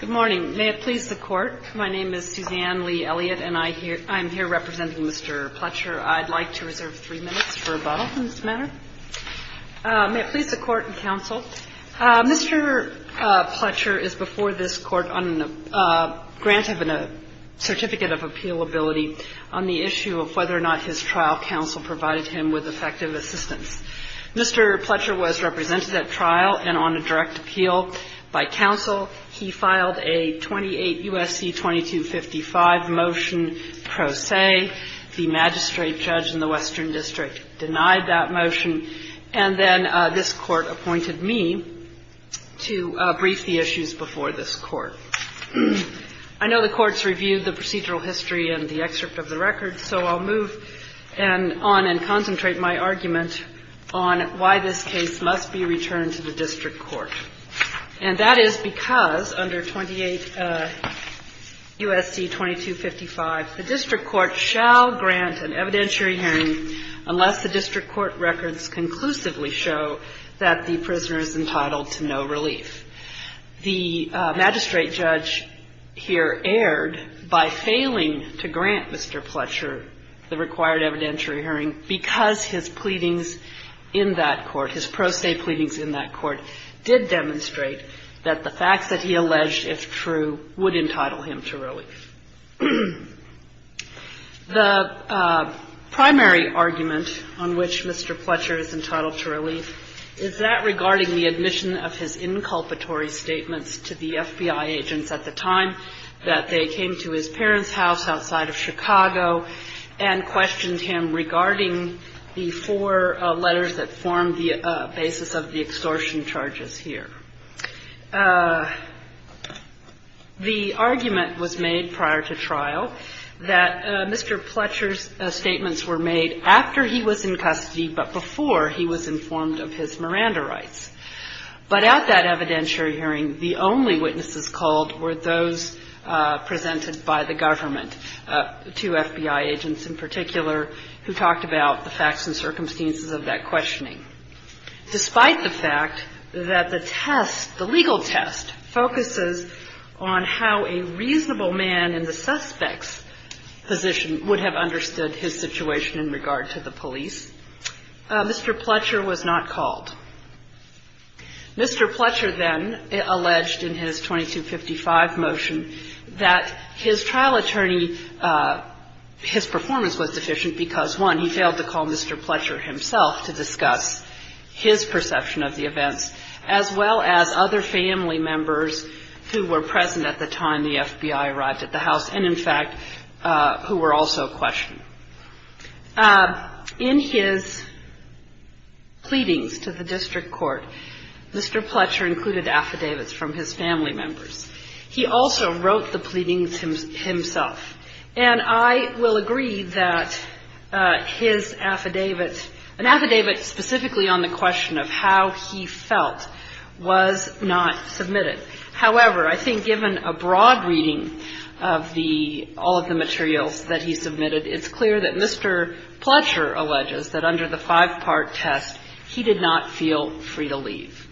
Good morning. May it please the Court, my name is Suzanne Lee Elliott and I'm here representing Mr. Pletcher. I'd like to reserve three minutes for rebuttal on this matter. May it please the Court and Counsel, Mr. Pletcher is before this Court on a grant of a certificate of appealability on the issue of whether or not his trial counsel provided him with effective assistance. Mr. Pletcher was represented at trial and on a direct appeal by counsel. He filed a 28 U.S.C. 2255 motion pro se. The magistrate judge in the Western District denied that motion and then this Court appointed me to brief the issues before this Court. I know the Court's reviewed the procedural history and the excerpt of the record, so I'll move on and concentrate my argument on why this case must be returned to the district court. And that is because under 28 U.S.C. 2255, the district court shall grant an evidentiary hearing unless the district court records conclusively show that the prisoner is entitled to no relief. The magistrate judge here erred by failing to grant Mr. Pletcher the required evidentiary hearing because his pleadings in that court, his pro se pleadings in that court, did demonstrate that the facts that he alleged, if true, would entitle him to relief. The primary argument on which Mr. Pletcher is entitled to relief is that regarding the admission of his inculpatory statements to the FBI agents at the time that they came to his parents' house outside of Chicago and questioned him regarding the four letters that form the basis of the extortion charges here. The argument was made prior to trial that Mr. Pletcher's statements were made after he was in custody, but before he was informed of his Miranda rights. But at that evidentiary hearing, the only witnesses called were those presented by the government, two FBI agents in particular, who talked about the facts and circumstances of that questioning. Despite the fact that the test, the legal test, focuses on how a reasonable man in the suspect's position would have understood his situation in regard to the police, Mr. Pletcher was not called. Mr. Pletcher then alleged in his 2255 motion that his trial attorney, his performance was deficient because, one, he failed to call Mr. Pletcher himself to discuss his perception of the events, as well as other family members who were present at the time the FBI arrived at the house and, in fact, who were also questioned. In his pleadings to the district court, Mr. Pletcher included affidavits from his family members. He also wrote the pleadings himself. And I will agree that his affidavit, an affidavit specifically on the question of how he felt, was not submitted. However, I think given a broad reading of the, all of the materials that he submitted, it's clear that Mr. Pletcher alleges that under the five-part test, he did not feel free to leave.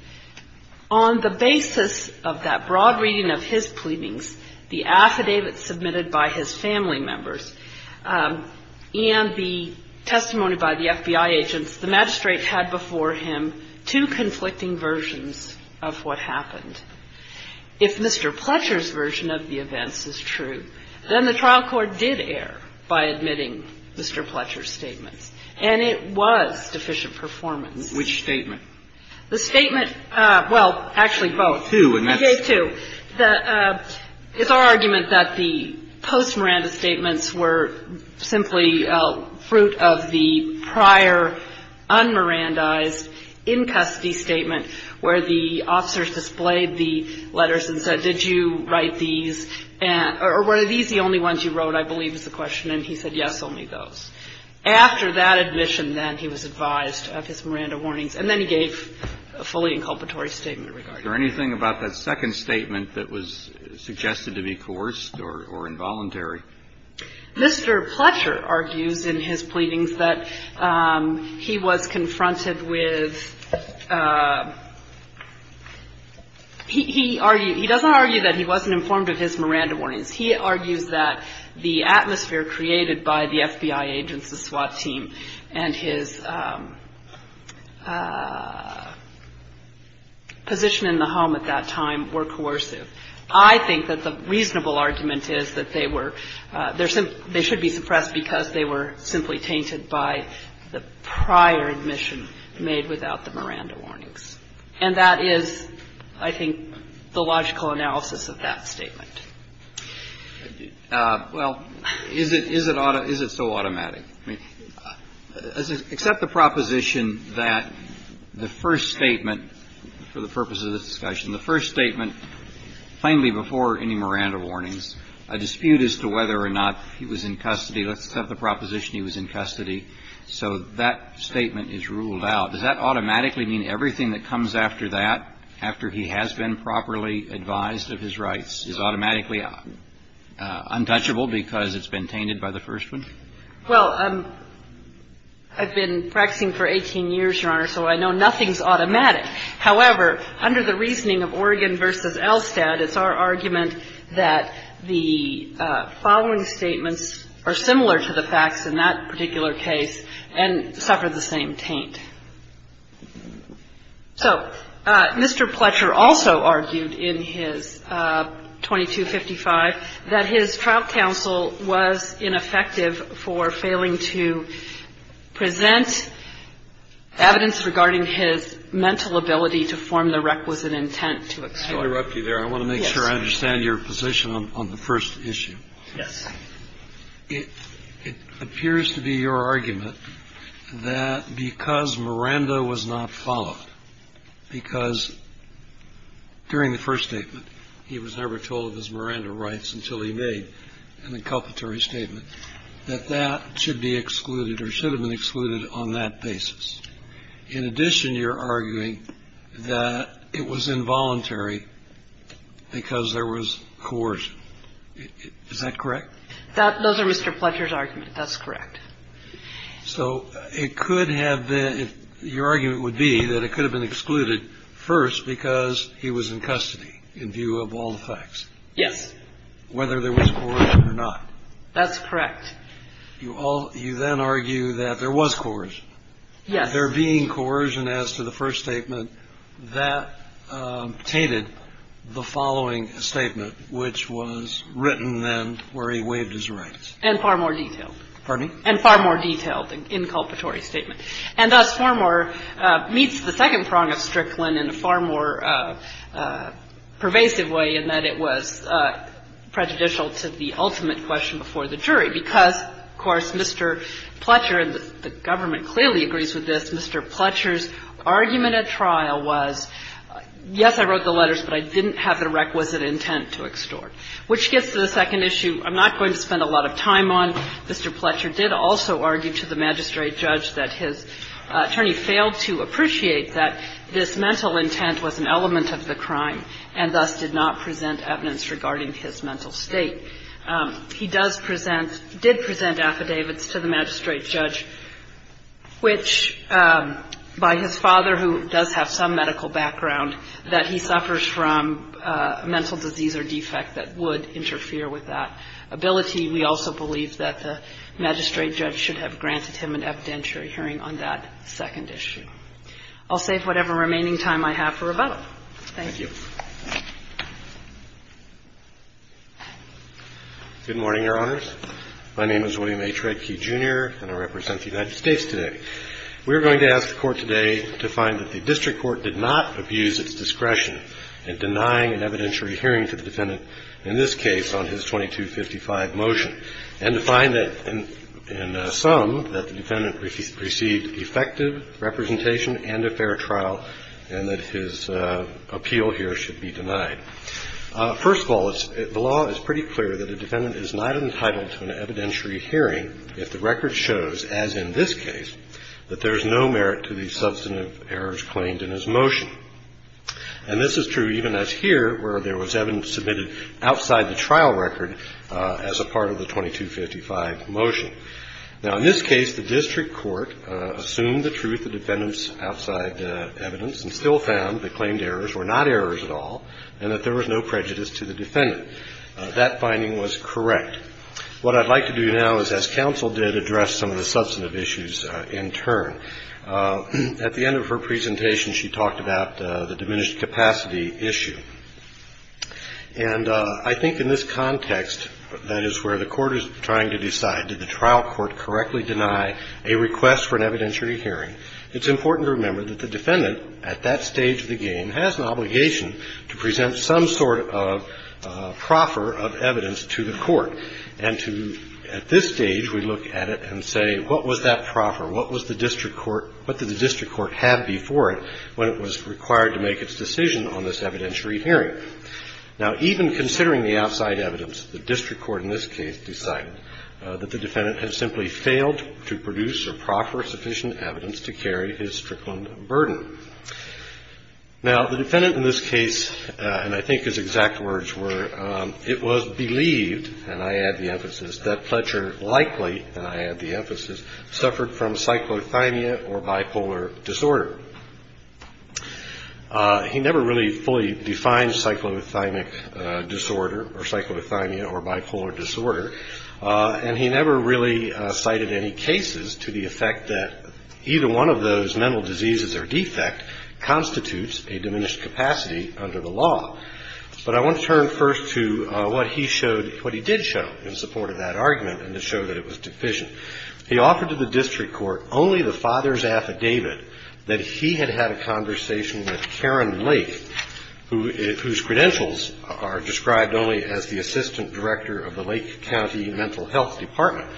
On the basis of that broad reading of his pleadings, the affidavit submitted by his family members, and the If Mr. Pletcher's version of the events is true, then the trial court did err by admitting Mr. Pletcher's statements, and it was deficient performance. Which statement? The statement, well, actually, both. Two, and that's It's our argument that the post-Miranda statements were simply fruit of the prior un-Mirandaized in-custody statement, where the officers displayed the letters and said, did you write these, or were these the only ones you wrote, I believe, was the question, and he said, yes, only those. After that admission, then, he was advised of his Miranda warnings, and then he gave a fully inculpatory statement regarding them. Is there anything about that second statement that was suggested to be coerced or involuntary? Mr. Pletcher argues in his pleadings that he was confronted with He doesn't argue that he wasn't informed of his Miranda warnings. He argues that the atmosphere created by the FBI agents, the SWAT team, and his position in the home at that time were coercive. I think that the reasonable argument is that they were they should be suppressed because they were simply tainted by the prior admission made without the Miranda warnings, and that is, I think, the logical analysis of that statement. Well, is it so automatic? I mean, except the proposition that the first statement, for the purpose of this discussion, the first statement, plainly before any Miranda warnings, a dispute as to whether or not he was in custody, except the proposition he was in custody. So that statement is ruled out. Does that automatically mean everything that comes after that, after he has been properly advised of his rights, is automatically untouchable because it's been tainted by the first one? Well, I've been practicing for 18 years, Your Honor, so I know nothing's automatic. However, under the reasoning of Oregon v. Elstad, it's our argument that the following statements are similar to the facts in that particular case and suffer the same taint. So Mr. Pletcher also argued in his 2255 that his trial counsel was ineffective for failing to present evidence regarding his mental ability to form the requisite intent to exclude. I'll interrupt you there. I want to make sure I understand your position on the first issue. Yes. It appears to be your argument that because Miranda was not followed, because during the first statement he was never told of his Miranda rights until he made an inculpatory statement, that that should be excluded or should have been excluded on that basis. In addition, you're arguing that it was involuntary because there was coercion. Is that correct? Those are Mr. Pletcher's arguments. That's correct. So it could have been – your argument would be that it could have been excluded first because he was in custody in view of all the facts. Yes. Whether there was coercion or not. That's correct. You then argue that there was coercion. Yes. There being coercion as to the first statement, that tainted the following statement, which was written then where he waived his rights. And far more detailed. Pardon me? And far more detailed inculpatory statement. And thus far more – meets the second prong of Strickland in a far more pervasive way in that it was prejudicial to the ultimate question before the jury. Because, of course, Mr. Pletcher – and the government clearly agrees with this – Mr. Pletcher's argument at trial was, yes, I wrote the letters, but I didn't have the requisite intent to extort. Which gets to the second issue I'm not going to spend a lot of time on. Mr. Pletcher did also argue to the magistrate judge that his attorney failed to appreciate that this mental intent was an element of the crime, and thus did not present evidence regarding his mental state. He does present – did present affidavits to the magistrate judge which, by his father, who does have some medical background, that he suffers from a mental disease or defect that would interfere with that ability. We also believe that the magistrate judge should have granted him an evidentiary hearing on that second issue. I'll save whatever remaining time I have for rebuttal. Thank you. Good morning, Your Honors. My name is William H. Redkey, Jr., and I represent the United States today. We are going to ask the Court today to find that the district court did not abuse its discretion in denying an evidentiary hearing to the defendant in this case on his 2255 motion, and to find that, in sum, that the defendant received effective representation and a fair trial, and that his appeal here should be denied. First of all, the law is pretty clear that a defendant is not entitled to an evidentiary hearing if the record shows, as in this case, that there is no merit to the substantive errors claimed in his motion. And this is true even as here, where there was evidence submitted outside the trial record as a part of the 2255 motion. Now, in this case, the district court assumed the truth, the defendant's outside evidence, and still found the claimed errors were not errors at all, and that there was no prejudice to the defendant. That finding was correct. What I'd like to do now is, as counsel did, address some of the substantive issues in turn. At the end of her presentation, she talked about the diminished capacity issue. And I think in this context, that is where the Court is trying to decide, did the trial court correctly deny a request for an evidentiary hearing? It's important to remember that the defendant, at that stage of the game, has an obligation to present some sort of proffer of evidence to the court, and to, at this stage, we look at it and say, what was that proffer? What was the district court, what did the district court have before it when it was required to make its decision on this evidentiary hearing? Now, even considering the outside evidence, the district court in this case decided that the defendant had simply failed to produce a proffer of sufficient evidence to carry his strickland burden. Now, the defendant in this case, and I think his exact words were, it was believed, and I add the emphasis, that Fletcher likely, and I add the emphasis, suffered from cyclothymia or bipolar disorder. He never really fully defined cyclothymia disorder, or cyclothymia or bipolar disorder. And he never really cited any cases to the effect that either one of those mental diseases or defect constitutes a diminished capacity under the law. But I want to turn first to what he showed, what he did show in support of that argument, and to show that it was deficient. He offered to the district court only the father's affidavit that he had had a conversation with Karen Lake, whose credentials are described only as the assistant director of the Lake County Mental Health Department.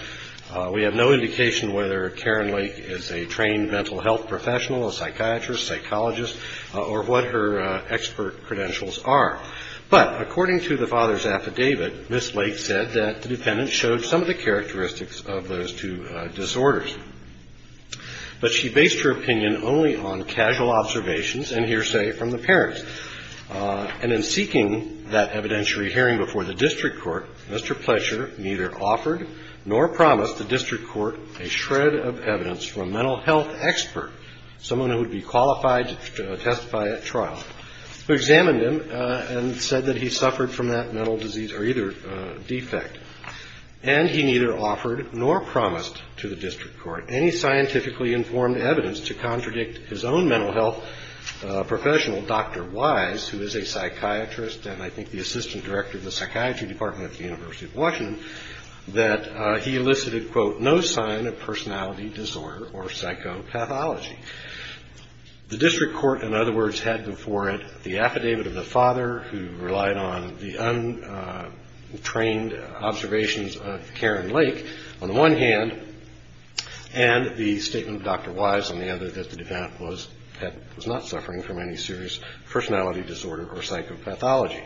We have no indication whether Karen Lake is a trained mental health professional, a psychiatrist, psychologist, or what her expert credentials are. But according to the father's affidavit, Miss Lake said that the defendant showed some of the characteristics of those two disorders. But she based her opinion only on casual observations and hearsay from the parents. And in seeking that evidentiary hearing before the district court, Mr. Pleasure neither offered nor promised the district court a shred of evidence from a mental health expert, someone who would be qualified to testify at trial, who examined him and said that he suffered from that mental disease or either defect. And he neither offered nor promised to the district court any scientifically informed evidence to psychiatrist, and I think the assistant director of the psychiatry department at the University of Washington, that he elicited, quote, no sign of personality disorder or psychopathology. The district court, in other words, had before it the affidavit of the father, who relied on the untrained observations of Karen Lake, on the one hand, and the statement of Dr. Wise on the other, that the defendant was not suffering from any serious personality disorder or psychopathology.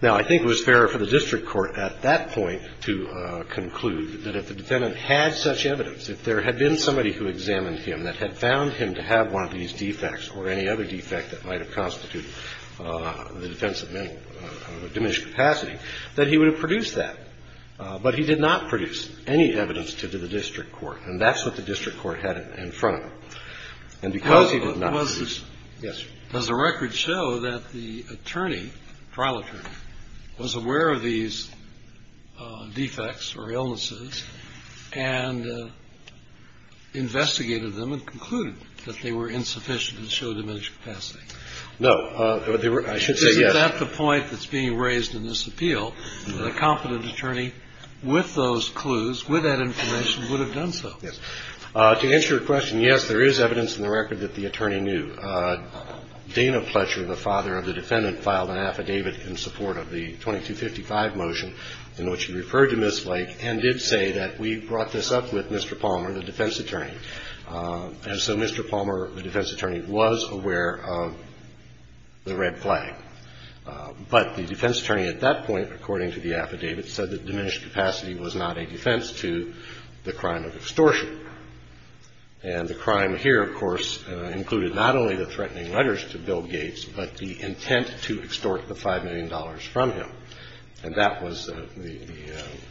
Now, I think it was fair for the district court at that point to conclude that if the defendant had such evidence, if there had been somebody who examined him that had found him to have one of these defects or any other defect that might have constituted the defense of diminished capacity, that he would have produced that. But he did not produce any evidence to the district court. And that's what the district court had in front of him. And because he did not produce. Yes, sir. Does the record show that the attorney, trial attorney, was aware of these defects or illnesses and investigated them and concluded that they were insufficient and showed diminished capacity? No. I should say yes. Isn't that the point that's being raised in this appeal, that a competent attorney with those clues, with that information, would have done so? Yes. To answer your question, yes, there is evidence in the record that the attorney knew. Dana Pletcher, the father of the defendant, filed an affidavit in support of the 2255 motion in which he referred to Ms. Lake and did say that we brought this up with Mr. Palmer, the defense attorney. And so Mr. Palmer, the defense attorney, was aware of the red flag. But the defense attorney at that point, according to the affidavit, said that diminished capacity was not a defense to the crime of extortion. And the crime here, of course, included not only the threatening letters to Bill Gates, but the intent to extort the $5 million from him. And that was the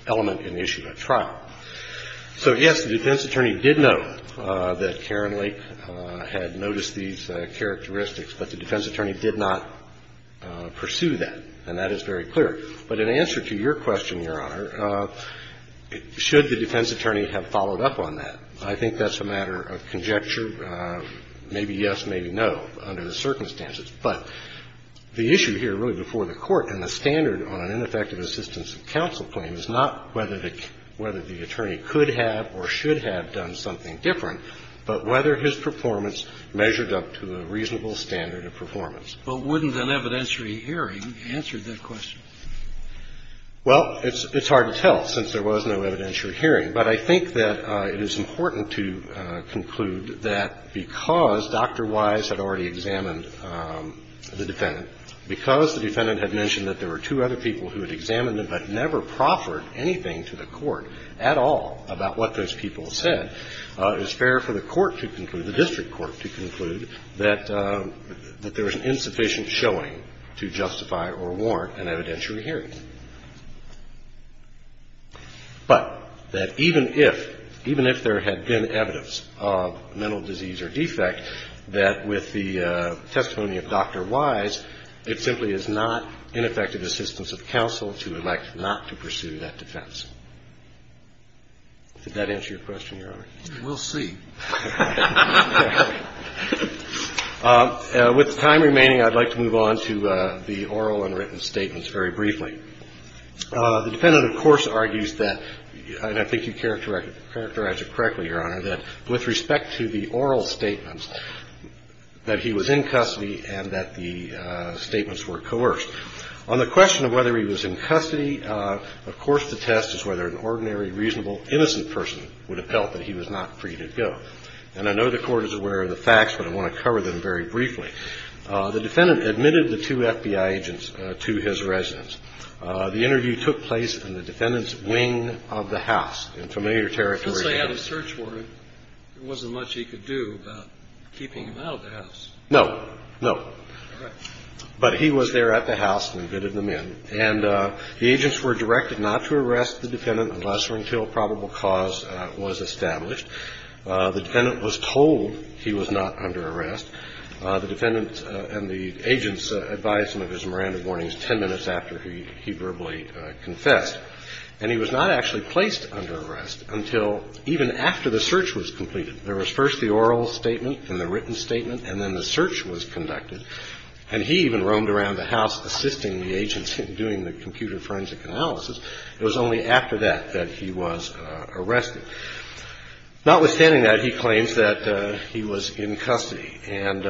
element in the issue at trial. So, yes, the defense attorney did know that Karen Lake had noticed these characteristics, but the defense attorney did not pursue that. And that is very clear. But in answer to your question, Your Honor, should the defense attorney have followed up on that? I think that's a matter of conjecture, maybe yes, maybe no, under the circumstances. But the issue here, really, before the Court, and the standard on an ineffective assistance of counsel claim is not whether the attorney could have or should have done something different, but whether his performance measured up to a reasonable standard of performance. But wouldn't an evidentiary hearing answer that question? Well, it's hard to tell, since there was no evidentiary hearing. But I think that it is important to conclude that because Dr. Wise had already examined the defendant, because the defendant had mentioned that there were two other people who had examined them but never proffered anything to the court at all about what those people said, it was fair for the court to conclude, the district court to conclude, that there was insufficient showing to justify or warrant an evidentiary hearing. But that even if, even if there had been evidence of mental disease or defect, that with the testimony of Dr. Wise, it simply is not ineffective assistance of counsel to elect not to pursue that defense. Did that answer your question, Your Honor? We'll see. With the time remaining, I'd like to move on to the oral and written statements very briefly. The defendant, of course, argues that, and I think you characterized it correctly, Your Honor, that with respect to the oral statements, that he was in custody and that the statements were coerced. On the question of whether he was in custody, of course, the test is whether an ordinary, reasonable, innocent person would have felt that he was not free to go. And I know the Court is aware of the facts, but I want to cover them very briefly. The defendant admitted the two FBI agents to his residence. The interview took place in the defendant's wing of the house, in familiar territory. Since they had a search warrant, there wasn't much he could do about keeping him out of the house. No, no. All right. But he was there at the house and admitted them in. And the agents were directed not to arrest the defendant unless or until a probable cause was established. The defendant was told he was not under arrest. The defendant and the agents advised him of his Miranda warnings 10 minutes after he verbally confessed. And he was not actually placed under arrest until even after the search was completed. There was first the oral statement and the written statement, and then the search was conducted. And he even roamed around the house assisting the agents in doing the computer forensic analysis. It was only after that that he was arrested. Notwithstanding that, he claims that he was in custody. And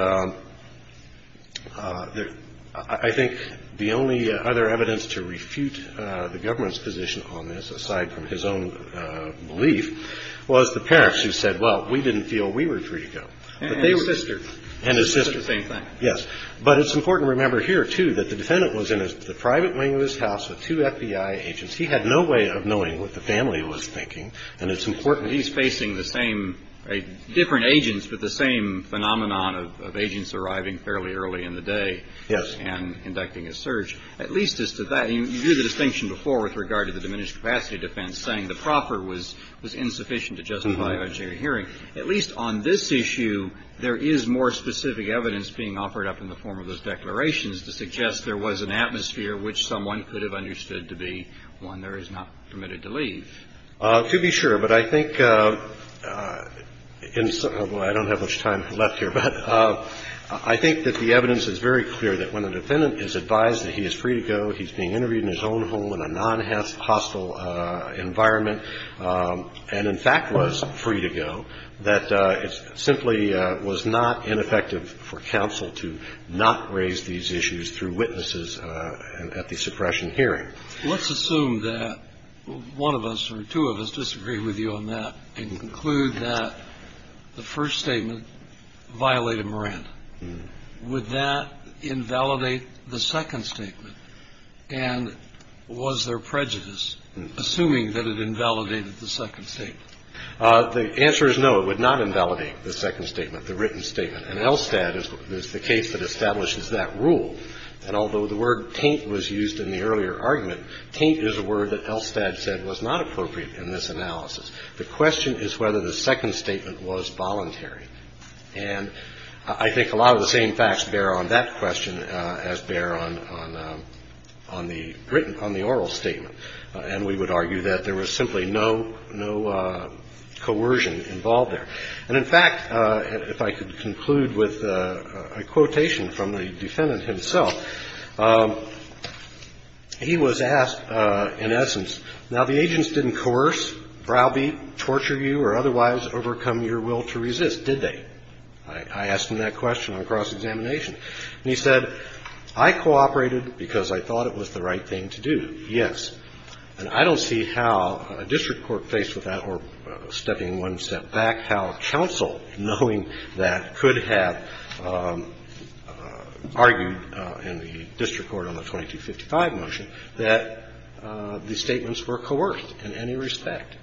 I think the only other evidence to refute the government's position on this, aside from his own belief, was the parents who said, well, we didn't feel we were free to go. And his sister. And his sister. It's the same thing. Yes. But it's important to remember here, too, that the defendant was in the private wing of his house with two FBI agents. He had no way of knowing what the family was thinking. And it's important. He's facing the same different agents, but the same phenomenon of agents arriving fairly early in the day. Yes. And conducting a search, at least as to that. You do the distinction before with regard to the diminished capacity defense, saying the proffer was was insufficient to justify a jury hearing. At least on this issue, there is more specific evidence being offered up in the form of those declarations to suggest there was an atmosphere which someone could have understood to be one there is not permitted to leave. To be sure. But I think, although I don't have much time left here, but I think that the evidence is very clear that when a defendant is advised that he is free to go, he's being interviewed in his own home in a non-hostile environment, and, in fact, was free to go, that it simply was not ineffective for counsel to not raise these issues through witnesses at the suppression hearing. Let's assume that one of us or two of us disagree with you on that and conclude that the first statement violated Miranda. Would that invalidate the second statement? And was there prejudice, assuming that it invalidated the second state? The answer is no, it would not invalidate the second statement, the written statement. And Elstad is the case that establishes that rule. And although the word taint was used in the earlier argument, taint is a word that Elstad said was not appropriate in this analysis. The question is whether the second statement was voluntary. And I think a lot of the same facts bear on that question as bear on the oral statement. And we would argue that there was simply no coercion involved there. And, in fact, if I could conclude with a quotation from the defendant himself, he was asked, in essence, now, the agents didn't coerce, browbeat, torture you, or otherwise overcome your will to resist, did they? I asked him that question on cross-examination. And he said, I cooperated because I thought it was the right thing to do, yes. And I don't see how a district court faced with that, or stepping one step back, how counsel, knowing that, could have argued in the district court on the 2255 motion that the statements were coerced in any respect.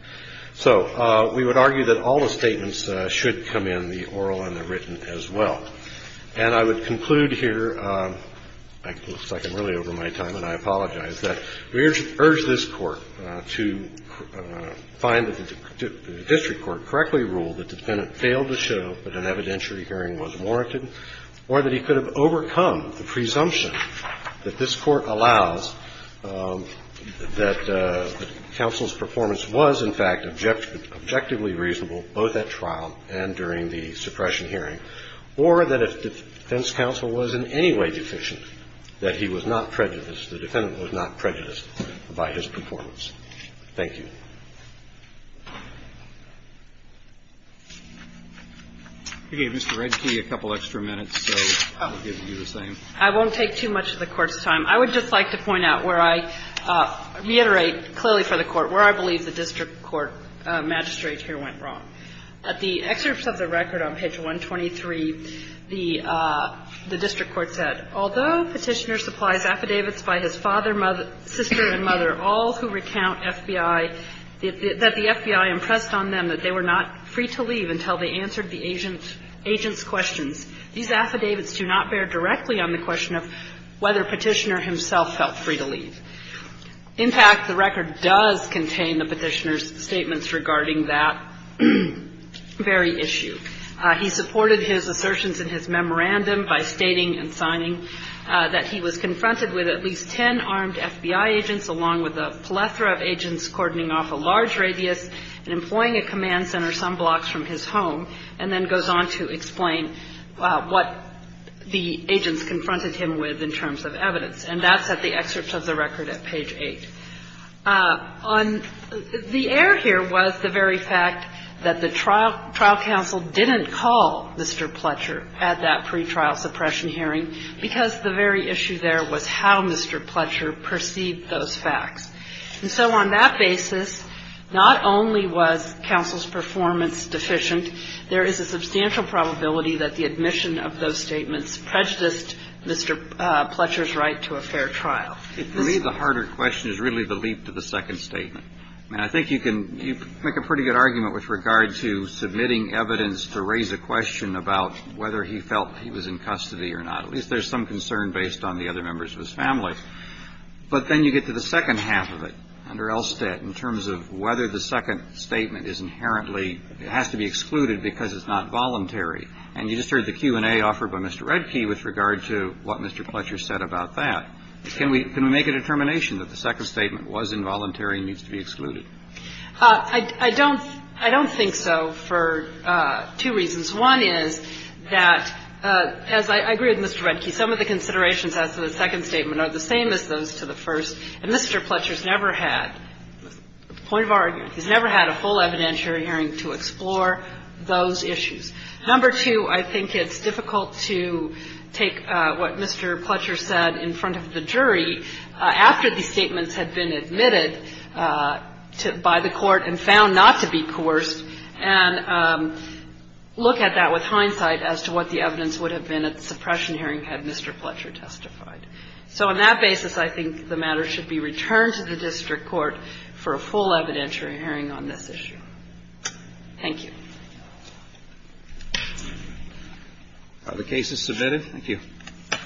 So we would argue that all the statements should come in, the oral and the written, as well. And I would conclude here. It looks like I'm really over my time, and I apologize, that we urge this Court to find that the district court correctly ruled that the defendant failed to show that an evidentiary hearing was warranted, or that he could have overcome the presumption that this Court allows that counsel's performance was, in fact, objectively reasonable both at trial and during the suppression hearing, or that if defense counsel was in any way deficient, that he was not prejudiced, the defendant was not prejudiced by his performance. Thank you. Roberts. I won't take too much of the Court's time. I would just like to point out where I reiterate clearly for the Court where I believe the district court magistrate here went wrong. At the excerpt of the record on page 123, the district court said, Although Petitioner supplies affidavits by his father, sister and mother, all who recount FBI, that the FBI impressed on them that they were not free to leave until they answered the agent's questions, these affidavits do not bear directly on the question of whether Petitioner himself felt free to leave. In fact, the record does contain the Petitioner's statements regarding that very issue. He supported his assertions in his memorandum by stating and signing that he was confronted with at least ten armed FBI agents, along with a plethora of agents cordoning off a large radius and employing a command center some blocks from his home, and then goes on to explain what the agents confronted him with in terms of evidence. And that's at the excerpt of the record at page 8. The error here was the very fact that the trial counsel didn't call Mr. Pletcher at that pretrial suppression hearing because the very issue there was how Mr. Pletcher perceived those facts. And so on that basis, not only was counsel's performance deficient, there is a substantial probability that the admission of those statements prejudiced Mr. Pletcher's right to a fair trial. Kennedy. For me, the harder question is really the leap to the second statement. And I think you can make a pretty good argument with regard to submitting evidence to raise a question about whether he felt he was in custody or not. At least there's some concern based on the other members of his family. But then you get to the second half of it under Elstead in terms of whether the second statement is inherently, it has to be excluded because it's not voluntary. And you just heard the Q&A offered by Mr. Redke with regard to what Mr. Pletcher said about that. Can we make a determination that the second statement was involuntary and needs to be excluded? I don't think so for two reasons. One is that, as I agree with Mr. Redke, some of the considerations as to the second statement are the same as those to the first. And Mr. Pletcher's never had, point of argument, he's never had a full evidentiary hearing to explore those issues. Number two, I think it's difficult to take what Mr. Pletcher said in front of the jury after the statements had been admitted by the Court and found not to be coerced and look at that with hindsight as to what the evidence would have been at the suppression hearing had Mr. Pletcher testified. So on that basis, I think the matter should be returned to the district court for a full evidentiary hearing on this issue. Thank you. Roberts.